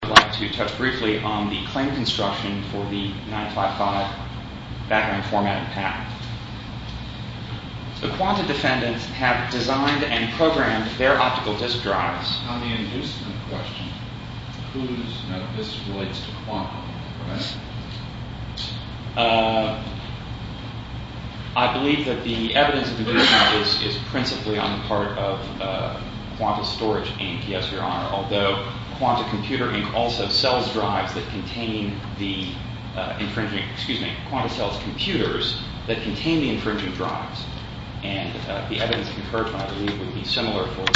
I'd like to touch briefly on the claim construction for the 955 background formatting pattern. The Quanta defendants have designed and programmed their optical disk drives. On the inducement question, whose disk relates to Quanta? I believe that the evidence of inducement is principally on the part of Quanta Storage Inc. although Quanta Computer Inc. also sells drives that contain the infringing, excuse me, Quanta sells computers that contain the infringing drives. And the evidence conferred by the league would be similar.